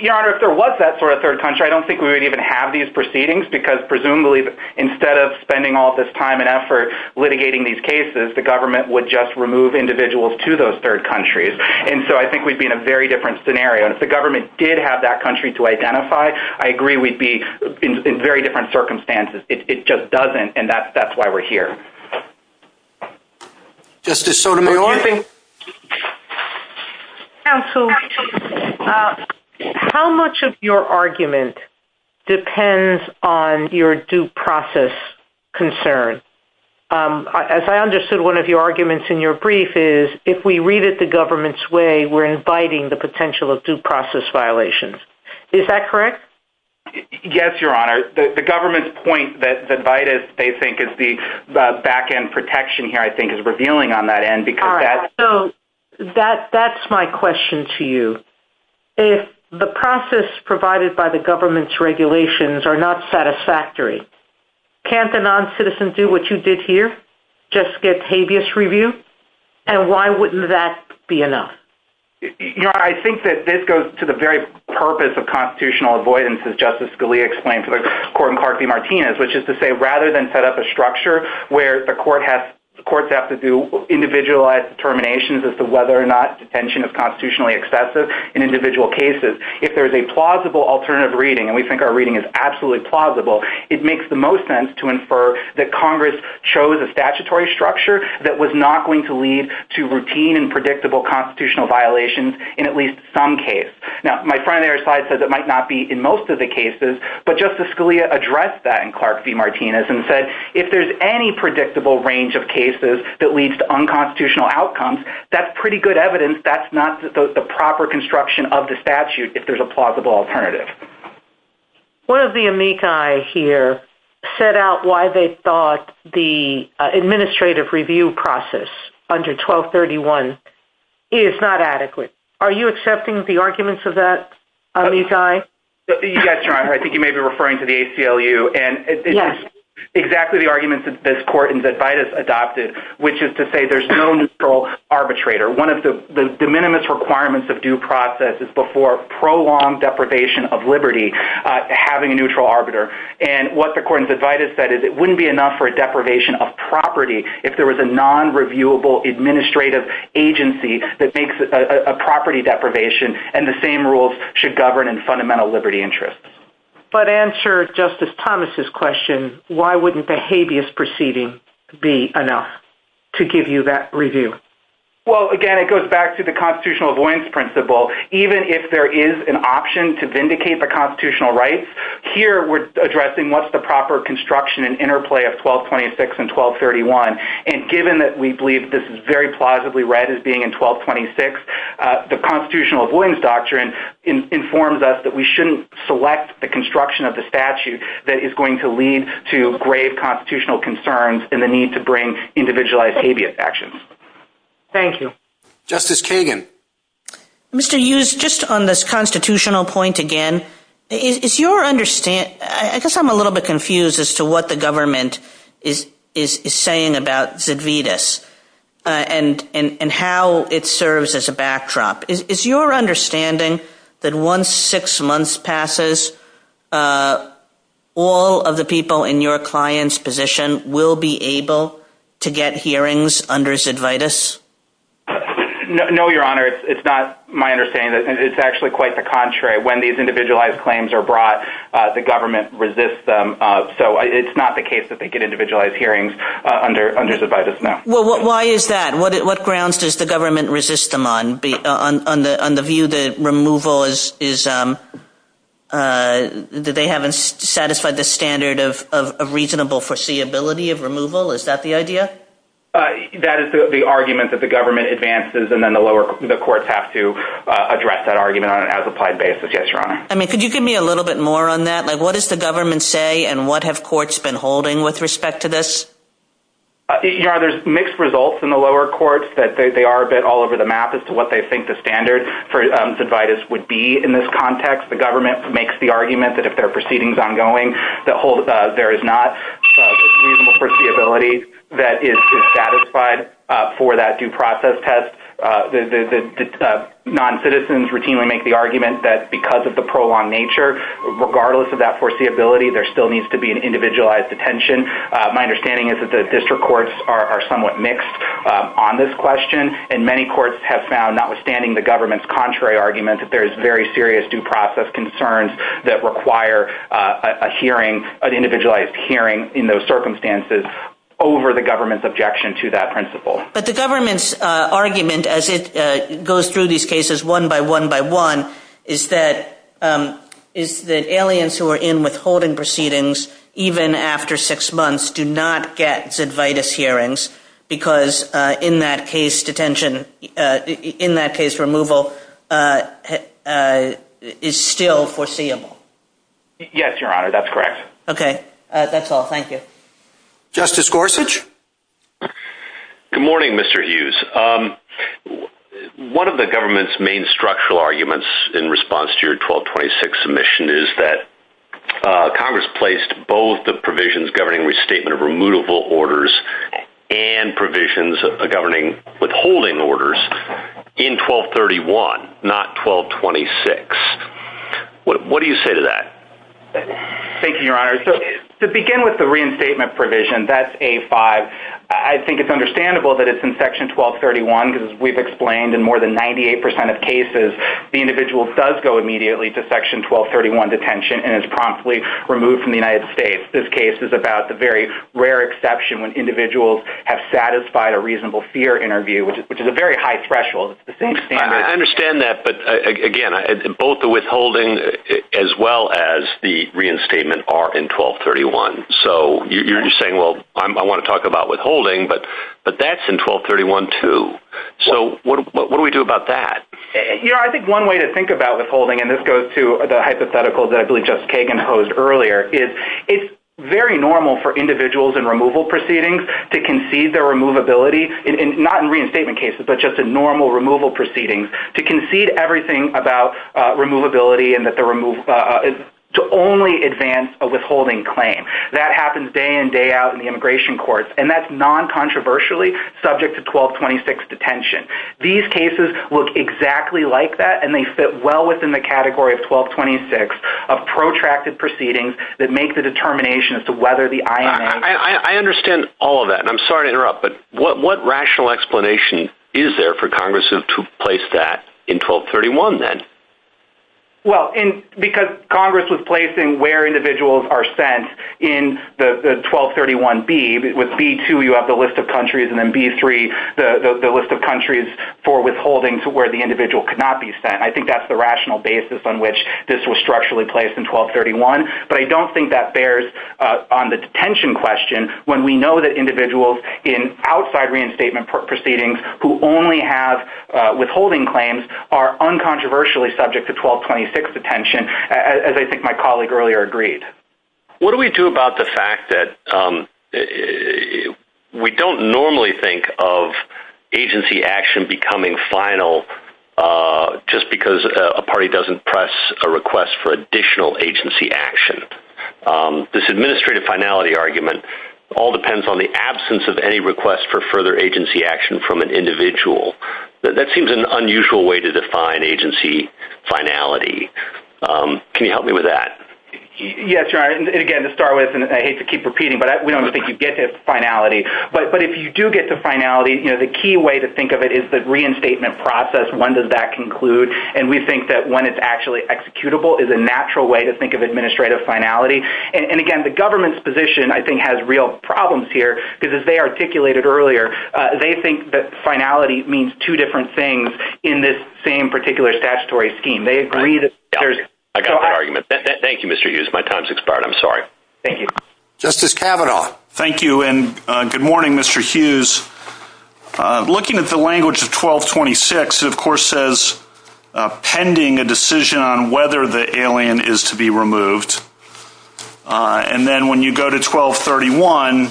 Your Honor, if there was that sort of third country, I don't think we would even have these proceedings, because presumably instead of spending all this time and effort litigating these cases, the government would just remove individuals to those third countries. And so I think we'd be in a very different scenario. And if the government did have that country to identify, I agree we'd be in very different circumstances. It just doesn't. And that's why we're here. Justice Sotomayor? Counsel, how much of your argument depends on your due process concern? As I understood, one of your arguments in your brief is, if we read it the government's way, we're inviting the potential of due process violations. Is that correct? Yes, Your Honor. The government's point that they think is the back-end protection here, I think, is revealing on that end. All right. So that's my question to you. If the process provided by the government's regulations are not satisfactory, can't the noncitizens do what you did here, just get habeas review? And why wouldn't that be enough? Your Honor, I think that this goes to the very purpose of constitutional avoidance, as Justice Scalia explained to the Court in Clark v. Martinez, which is to say, rather than set up a structure where the courts have to do individualized determinations as to whether or not detention is constitutionally excessive in individual cases, if there's a plausible alternative reading, and we think our reading is absolutely plausible, it makes the most sense to infer that Congress chose a statutory structure that was not going to lead to routine and predictable constitutional violations in at least some case. Now, my friend on the other side said that might not be in most of the cases, but Justice Scalia addressed that in Clark v. Martinez and said, if there's any predictable range of cases that leads to unconstitutional outcomes, that's pretty good evidence that's not the proper construction of the statute. If there's a plausible alternative. One of the amici here set out why they thought the administrative review process under 1231 is not adequate. Are you accepting the arguments of that amici? Your Honor, I think you may be referring to the ACLU, and it's exactly the arguments that this Court in Zedvitas adopted, which is to say there's no neutral arbitrator. One of the de minimis requirements of due process is before prolonged deprivation of liberty, having a neutral arbiter, and what the Court in Zedvitas said is it wouldn't be enough for a deprivation of property if there was a non-reviewable administrative agency that makes a property deprivation, and the same rules should govern in fundamental liberty interests. But to answer Justice Thomas' question, why wouldn't the habeas proceeding be enough to give you that review? Well, again, it goes back to the constitutional avoidance principle. Even if there is an option to vindicate the constitutional rights, here we're addressing what's the proper construction and interplay of 1226 and 1231, and given that we believe this is very plausibly read as being in 1226, the constitutional avoidance doctrine informs us that we shouldn't select the construction of the statute that is going to lead to grave constitutional concerns and the need to bring individualized habeas actions. Thank you. Justice Kagan. Mr. Hughes, just on this constitutional point again, I guess I'm a little bit confused as to what the government is saying about Zedvitas and how it serves as a backdrop. Is your understanding that once six months passes, all of the people in your client's position will be able to get hearings under Zedvitas? No, Your Honor. It's not my understanding. It's actually quite the contrary. When these individualized claims are brought, the government resists them. So it's not the case that they get individualized hearings under Zedvitas, no. Well, why is that? What grounds does the government resist them on, on the view that removal is – that they haven't satisfied the standard of reasonable foreseeability of removal? Is that the idea? That is the argument that the government advances, and then the lower – the courts have to address that argument on an as-applied basis, yes, Your Honor. I mean, could you give me a little bit more on that? Like, what does the government say, and what have courts been holding with respect to this? Your Honor, there's mixed results in the lower courts. They are a bit all over the map as to what they think the standard for Zedvitas would be in this context. The government makes the argument that if there are proceedings ongoing, that there is not reasonable foreseeability that is satisfied for that due process test. The noncitizens routinely make the argument that because of the prolonged nature, regardless of that foreseeability, there still needs to be an individualized detention. My understanding is that the district courts are somewhat mixed on this question. And many courts have found, notwithstanding the government's contrary argument, that there is very serious due process concerns that require a hearing, an individualized hearing in those circumstances over the government's objection to that principle. But the government's argument, as it goes through these cases one by one by one, is that aliens who are in withholding proceedings, even after six months, do not get Zedvitas hearings because in that case, detention, in that case, removal is still foreseeable. Yes, Your Honor, that's correct. Okay. That's all. Thank you. Justice Gorsuch? Good morning, Mr. Hughes. One of the government's main structural arguments in response to your 1226 submission is that Congress placed both the provisions governing restatement of remutable orders and provisions governing withholding orders in 1231, not 1226. What do you say to that? Thank you, Your Honor. To begin with the reinstatement provision, that's A5. I think it's understandable that it's in Section 1231 because, as we've explained, in more than 98% of cases, the individual does go immediately to Section 1231 detention and is promptly removed from the United States. This case is about the very rare exception when individuals have satisfied a reasonable fear interview, which is a very high threshold. I understand that. But, again, both the withholding as well as the reinstatement are in 1231. So you're saying, well, I want to talk about withholding, but that's in 1231 too. So what do we do about that? Your Honor, I think one way to think about withholding, and this goes to the hypothetical that I believe Justice Kagan posed earlier, is it's very normal for individuals in removal proceedings to concede their removability, not in reinstatement cases, but just in normal removal proceedings, to concede everything about removability and to only advance a withholding claim. That happens day in, day out in the immigration courts, and that's non-controversially subject to 1226 detention. These cases look exactly like that, and they fit well within the category of 1226 of protracted proceedings that make the determination as to whether the I.M.A. I understand all of that, and I'm sorry to interrupt, but what rational explanation is there for Congress to place that in 1231 then? Well, because Congress was placing where individuals are sent in the 1231B. With B2, you have the list of countries, and then B3, the list of countries for withholding to where the individual could not be sent. I think that's the rational basis on which this was structurally placed in 1231. But I don't think that bears on the detention question when we know that individuals in outside reinstatement proceedings who only have withholding claims are uncontroversially subject to 1226 detention, as I think my colleague earlier agreed. What do we do about the fact that we don't normally think of agency action becoming final just because a party doesn't press a request for additional agency action? This administrative finality argument all depends on the absence of any request for further agency action from an individual. That seems an unusual way to define agency finality. Can you help me with that? Yes. Again, to start with, and I hate to keep repeating, but we don't think you get to finality. But if you do get to finality, the key way to think of it is the reinstatement process. When does that conclude? And we think that when it's actually executable is a natural way to think of administrative finality. And again, the government's position, I think, has real problems here because, as they articulated earlier, they think that finality means two different things in this same particular statutory scheme. I got that argument. Thank you, Mr. Hughes. My time's expired. I'm sorry. Thank you. Justice Kavanaugh. Thank you, and good morning, Mr. Hughes. Looking at the language of 1226, it, of course, says pending a decision on whether the alien is to be removed. And then when you go to 1231,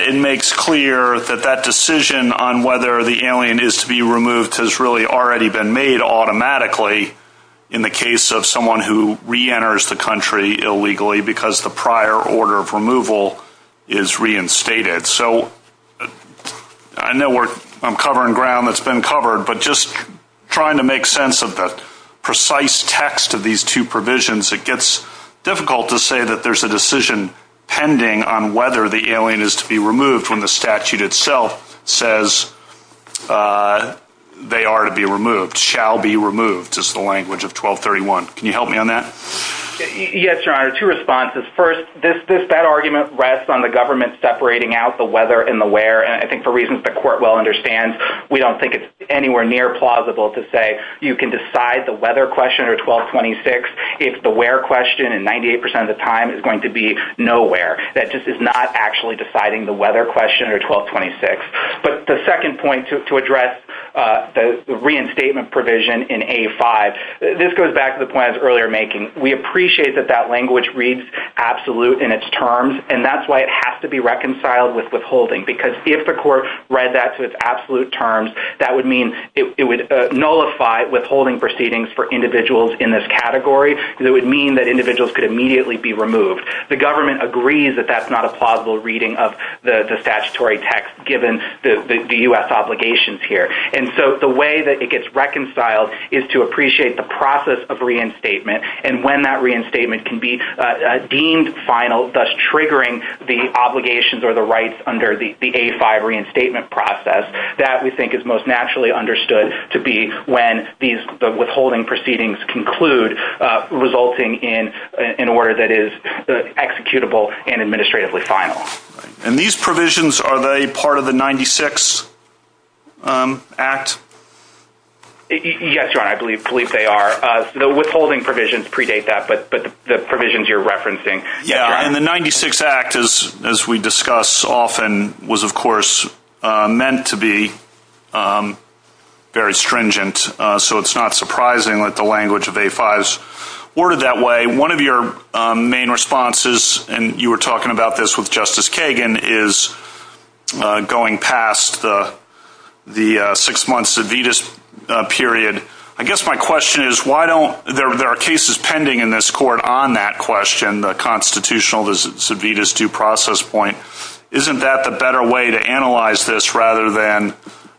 it makes clear that that decision on whether the alien is to be removed has really already been made automatically in the case of someone who reenters the country illegally because the prior order of removal is reinstated. So I know I'm covering ground that's been covered, but just trying to make sense of the precise text of these two provisions, it gets difficult to say that there's a decision pending on whether the alien is to be removed when the statute itself says they are to be removed, shall be removed, is the language of 1231. Can you help me on that? Yes, Your Honor. Two responses. First, that argument rests on the government separating out the whether and the where, and I think for reasons the Court well understands, we don't think it's anywhere near plausible to say you can decide the whether question or 1226 if the where question in 98 percent of the time is going to be nowhere. That just is not actually deciding the whether question or 1226. But the second point to address the reinstatement provision in A5, this goes back to the point I was earlier making. We appreciate that that language reads absolute in its terms, and that's why it has to be reconciled with withholding because if the Court read that to its absolute terms, that would mean it would nullify withholding proceedings for individuals in this category because it would mean that individuals could immediately be removed. The government agrees that that's not a plausible reading of the statutory text given the U.S. obligations here. And so the way that it gets reconciled is to appreciate the process of reinstatement and when that reinstatement can be deemed final, thus triggering the obligations or the rights under the A5 reinstatement process. That, we think, is most naturally understood to be when these withholding proceedings conclude, resulting in an order that is executable and administratively final. And these provisions, are they part of the 96 Act? Yes, Your Honor, I believe they are. The withholding provisions predate that, but the provisions you're referencing. Yeah, and the 96 Act, as we discuss often, was, of course, meant to be very stringent. So it's not surprising that the language of A5 is ordered that way. One of your main responses, and you were talking about this with Justice Kagan, is going past the six-month Civitas period. I guess my question is, there are cases pending in this Court on that question, the constitutional Civitas due process point. Isn't that the better way to analyze this rather than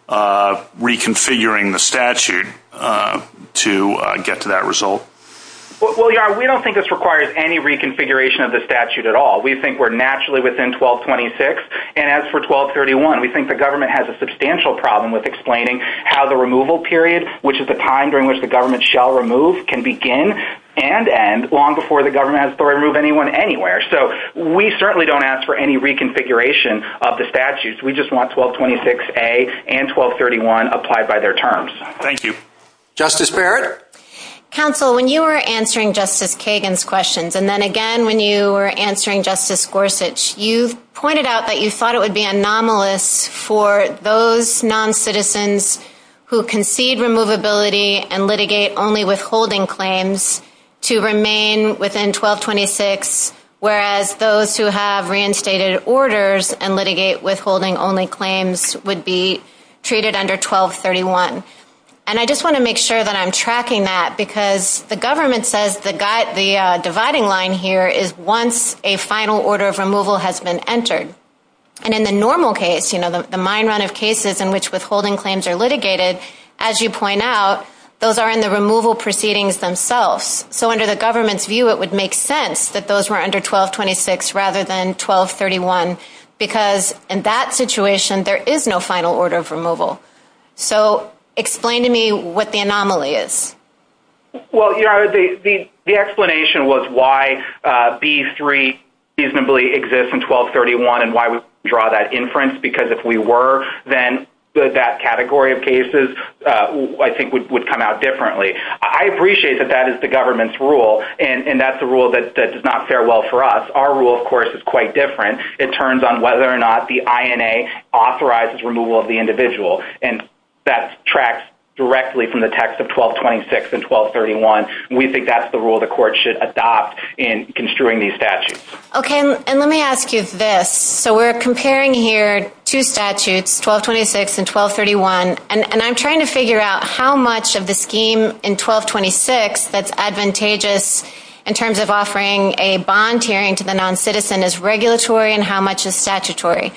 reconfiguring the statute to get to that result? Well, Your Honor, we don't think this requires any reconfiguration of the statute at all. We think we're naturally within 1226, and as for 1231, we think the government has a substantial problem with explaining how the removal period, which is the time during which the government shall remove, can begin and end long before the government has to remove anyone anywhere. So we certainly don't ask for any reconfiguration of the statutes. We just want 1226A and 1231 applied by their terms. Thank you. Justice Barrett? Counsel, when you were answering Justice Kagan's questions, and then again when you were answering Justice Gorsuch, you pointed out that you thought it would be anomalous for those non-citizens who concede removability and litigate only withholding claims to remain within 1226 whereas those who have reinstated orders and litigate withholding only claims would be treated under 1231. And I just want to make sure that I'm tracking that because the government says the dividing line here is once a final order of removal has been entered. And in the normal case, you know, the mine run of cases in which withholding claims are litigated, as you point out, those are in the removal proceedings themselves. So under the government's view, it would make sense that those were under 1226 rather than 1231 because in that situation, there is no final order of removal. So explain to me what the anomaly is. Well, you know, the explanation was why B3 reasonably exists in 1231 and why we draw that inference because if we were, then that category of cases, I think, would come out differently. I appreciate that that is the government's rule, and that's a rule that does not fare well for us. Our rule, of course, is quite different. It turns on whether or not the INA authorizes removal of the individual, and that tracks directly from the text of 1226 and 1231. We think that's the rule the court should adopt in construing these statutes. Okay, and let me ask you this. So we're comparing here two statutes, 1226 and 1231, and I'm trying to figure out how much of the scheme in 1226 that's advantageous in terms of offering a bond hearing to the noncitizen is regulatory and how much is statutory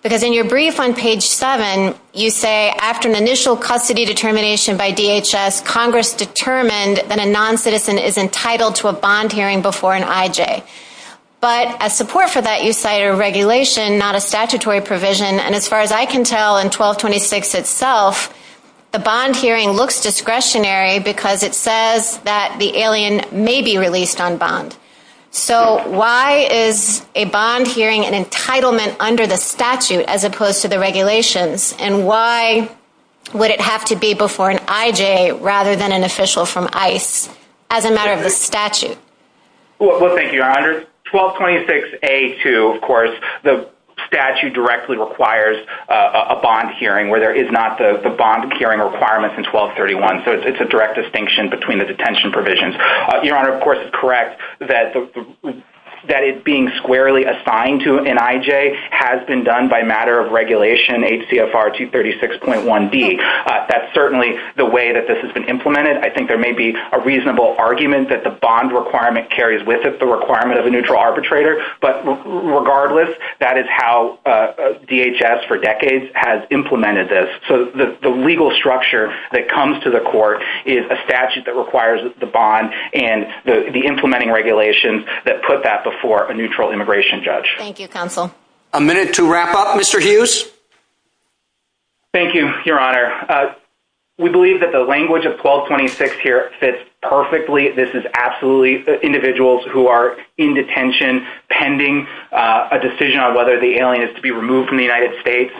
because in your brief on page 7, you say after an initial custody determination by DHS, Congress determined that a noncitizen is entitled to a bond hearing before an IJ. But as support for that, you cite a regulation, not a statutory provision, and as far as I can tell in 1226 itself, the bond hearing looks discretionary because it says that the alien may be released on bond. So why is a bond hearing an entitlement under the statute as opposed to the regulations, and why would it have to be before an IJ rather than an official from ICE as a matter of the statute? Well, thank you, Your Honor. 1226A2, of course, the statute directly requires a bond hearing where there is not the bond hearing requirements in 1231, so it's a direct distinction between the detention provisions. Your Honor, of course, it's correct that it being squarely assigned to an IJ has been done by matter of regulation, HCFR 236.1D. That's certainly the way that this has been implemented. I think there may be a reasonable argument that the bond requirement carries with it the requirement of a neutral arbitrator, but regardless, that is how DHS for decades has implemented this. So the legal structure that comes to the court is a statute that requires the bond and the implementing regulations that put that before a neutral immigration judge. Thank you, Counsel. A minute to wrap up. Mr. Hughes? Thank you, Your Honor. We believe that the language of 1226 here fits perfectly. This is absolutely individuals who are in detention pending a decision on whether the alien is to be removed from the United States.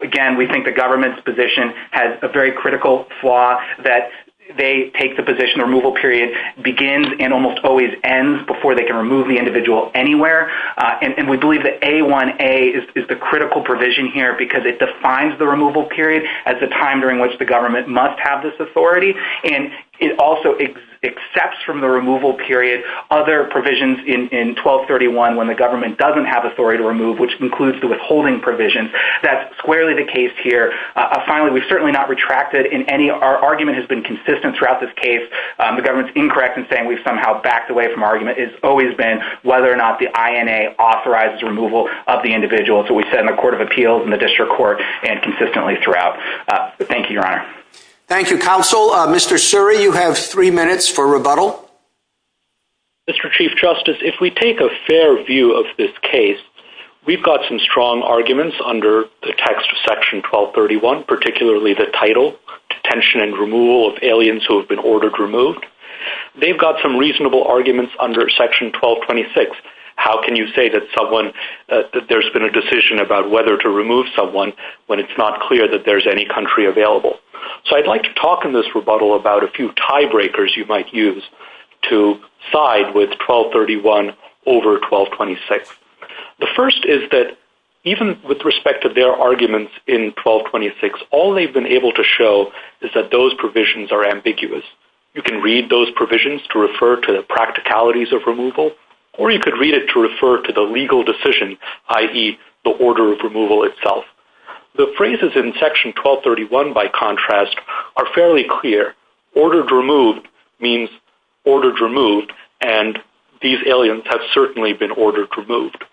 Again, we think the government's position has a very critical flaw that they take the position the removal period begins and almost always ends before they can remove the individual anywhere, and we believe that A1A is the critical provision here because it defines the removal period as the time during which the government must have this authority, and it also accepts from the removal period other provisions in 1231 when the government doesn't have authority to remove, which includes the withholding provisions. That's squarely the case here. Finally, we've certainly not retracted in any. Our argument has been consistent throughout this case. The government's incorrect in saying we've somehow backed away from our argument. It's always been whether or not the INA authorizes removal of the individual. So we've said in the Court of Appeals, in the District Court, and consistently throughout. Thank you, Your Honor. Thank you, Counsel. Mr. Suri, you have three minutes for rebuttal. Mr. Chief Justice, if we take a fair view of this case, we've got some strong arguments under the text of Section 1231, particularly the title, Detention and Removal of Aliens Who Have Been Ordered Removed. They've got some reasonable arguments under Section 1226. How can you say that there's been a decision about whether to remove someone when it's not clear that there's any country available? So I'd like to talk in this rebuttal about a few tiebreakers you might use to side with 1231 over 1226. The first is that even with respect to their arguments in 1226, all they've been able to show is that those provisions are ambiguous. You can read those provisions to refer to the practicalities of removal, or you could read it to refer to the legal decision, i.e., the order of removal itself. The phrases in Section 1231, by contrast, are fairly clear. Ordered removed means ordered removed, and these aliens have certainly been ordered removed.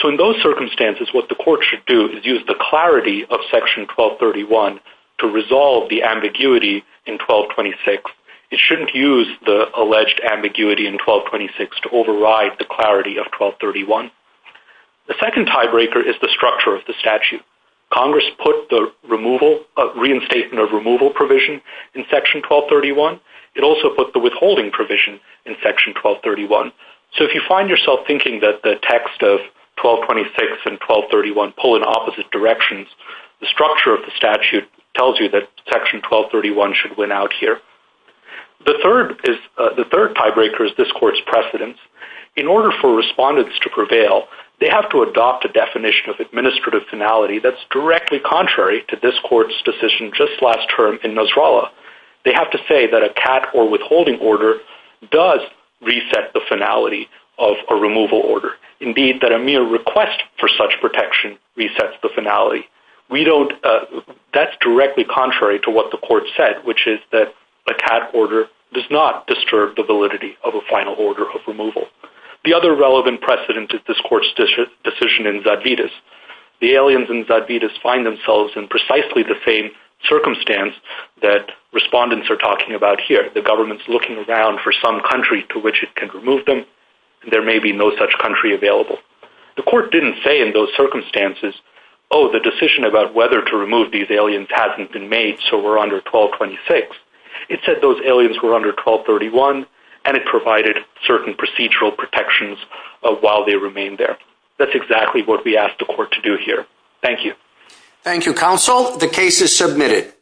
So in those circumstances, what the court should do is use the clarity of Section 1231 to resolve the ambiguity in 1226. It shouldn't use the alleged ambiguity in 1226 to override the clarity of 1231. The second tiebreaker is the structure of the statute. Congress put the reinstatement of removal provision in Section 1231. It also put the withholding provision in Section 1231. So if you find yourself thinking that the text of 1226 and 1231 pull in opposite directions, the structure of the statute tells you that Section 1231 should win out here. The third tiebreaker is this court's precedence. In order for respondents to prevail, they have to adopt a definition of administrative finality that's directly contrary to this court's decision just last term in Nasrallah. They have to say that a cat or withholding order does reset the finality of a removal order. Indeed, that a mere request for such protection resets the finality. That's directly contrary to what the court said, which is that a cat order does not disturb the validity of a final order of removal. The other relevant precedent is this court's decision in Zadvitas. The aliens in Zadvitas find themselves in precisely the same circumstance that respondents are talking about here. The government's looking around for some country to which it can remove them. There may be no such country available. The court didn't say in those circumstances, oh, the decision about whether to remove these aliens hasn't been made, so we're under 1226. It said those aliens were under 1231, and it provided certain procedural protections while they remained there. That's exactly what we asked the court to do here. Thank you. Thank you, Counsel. The case is submitted.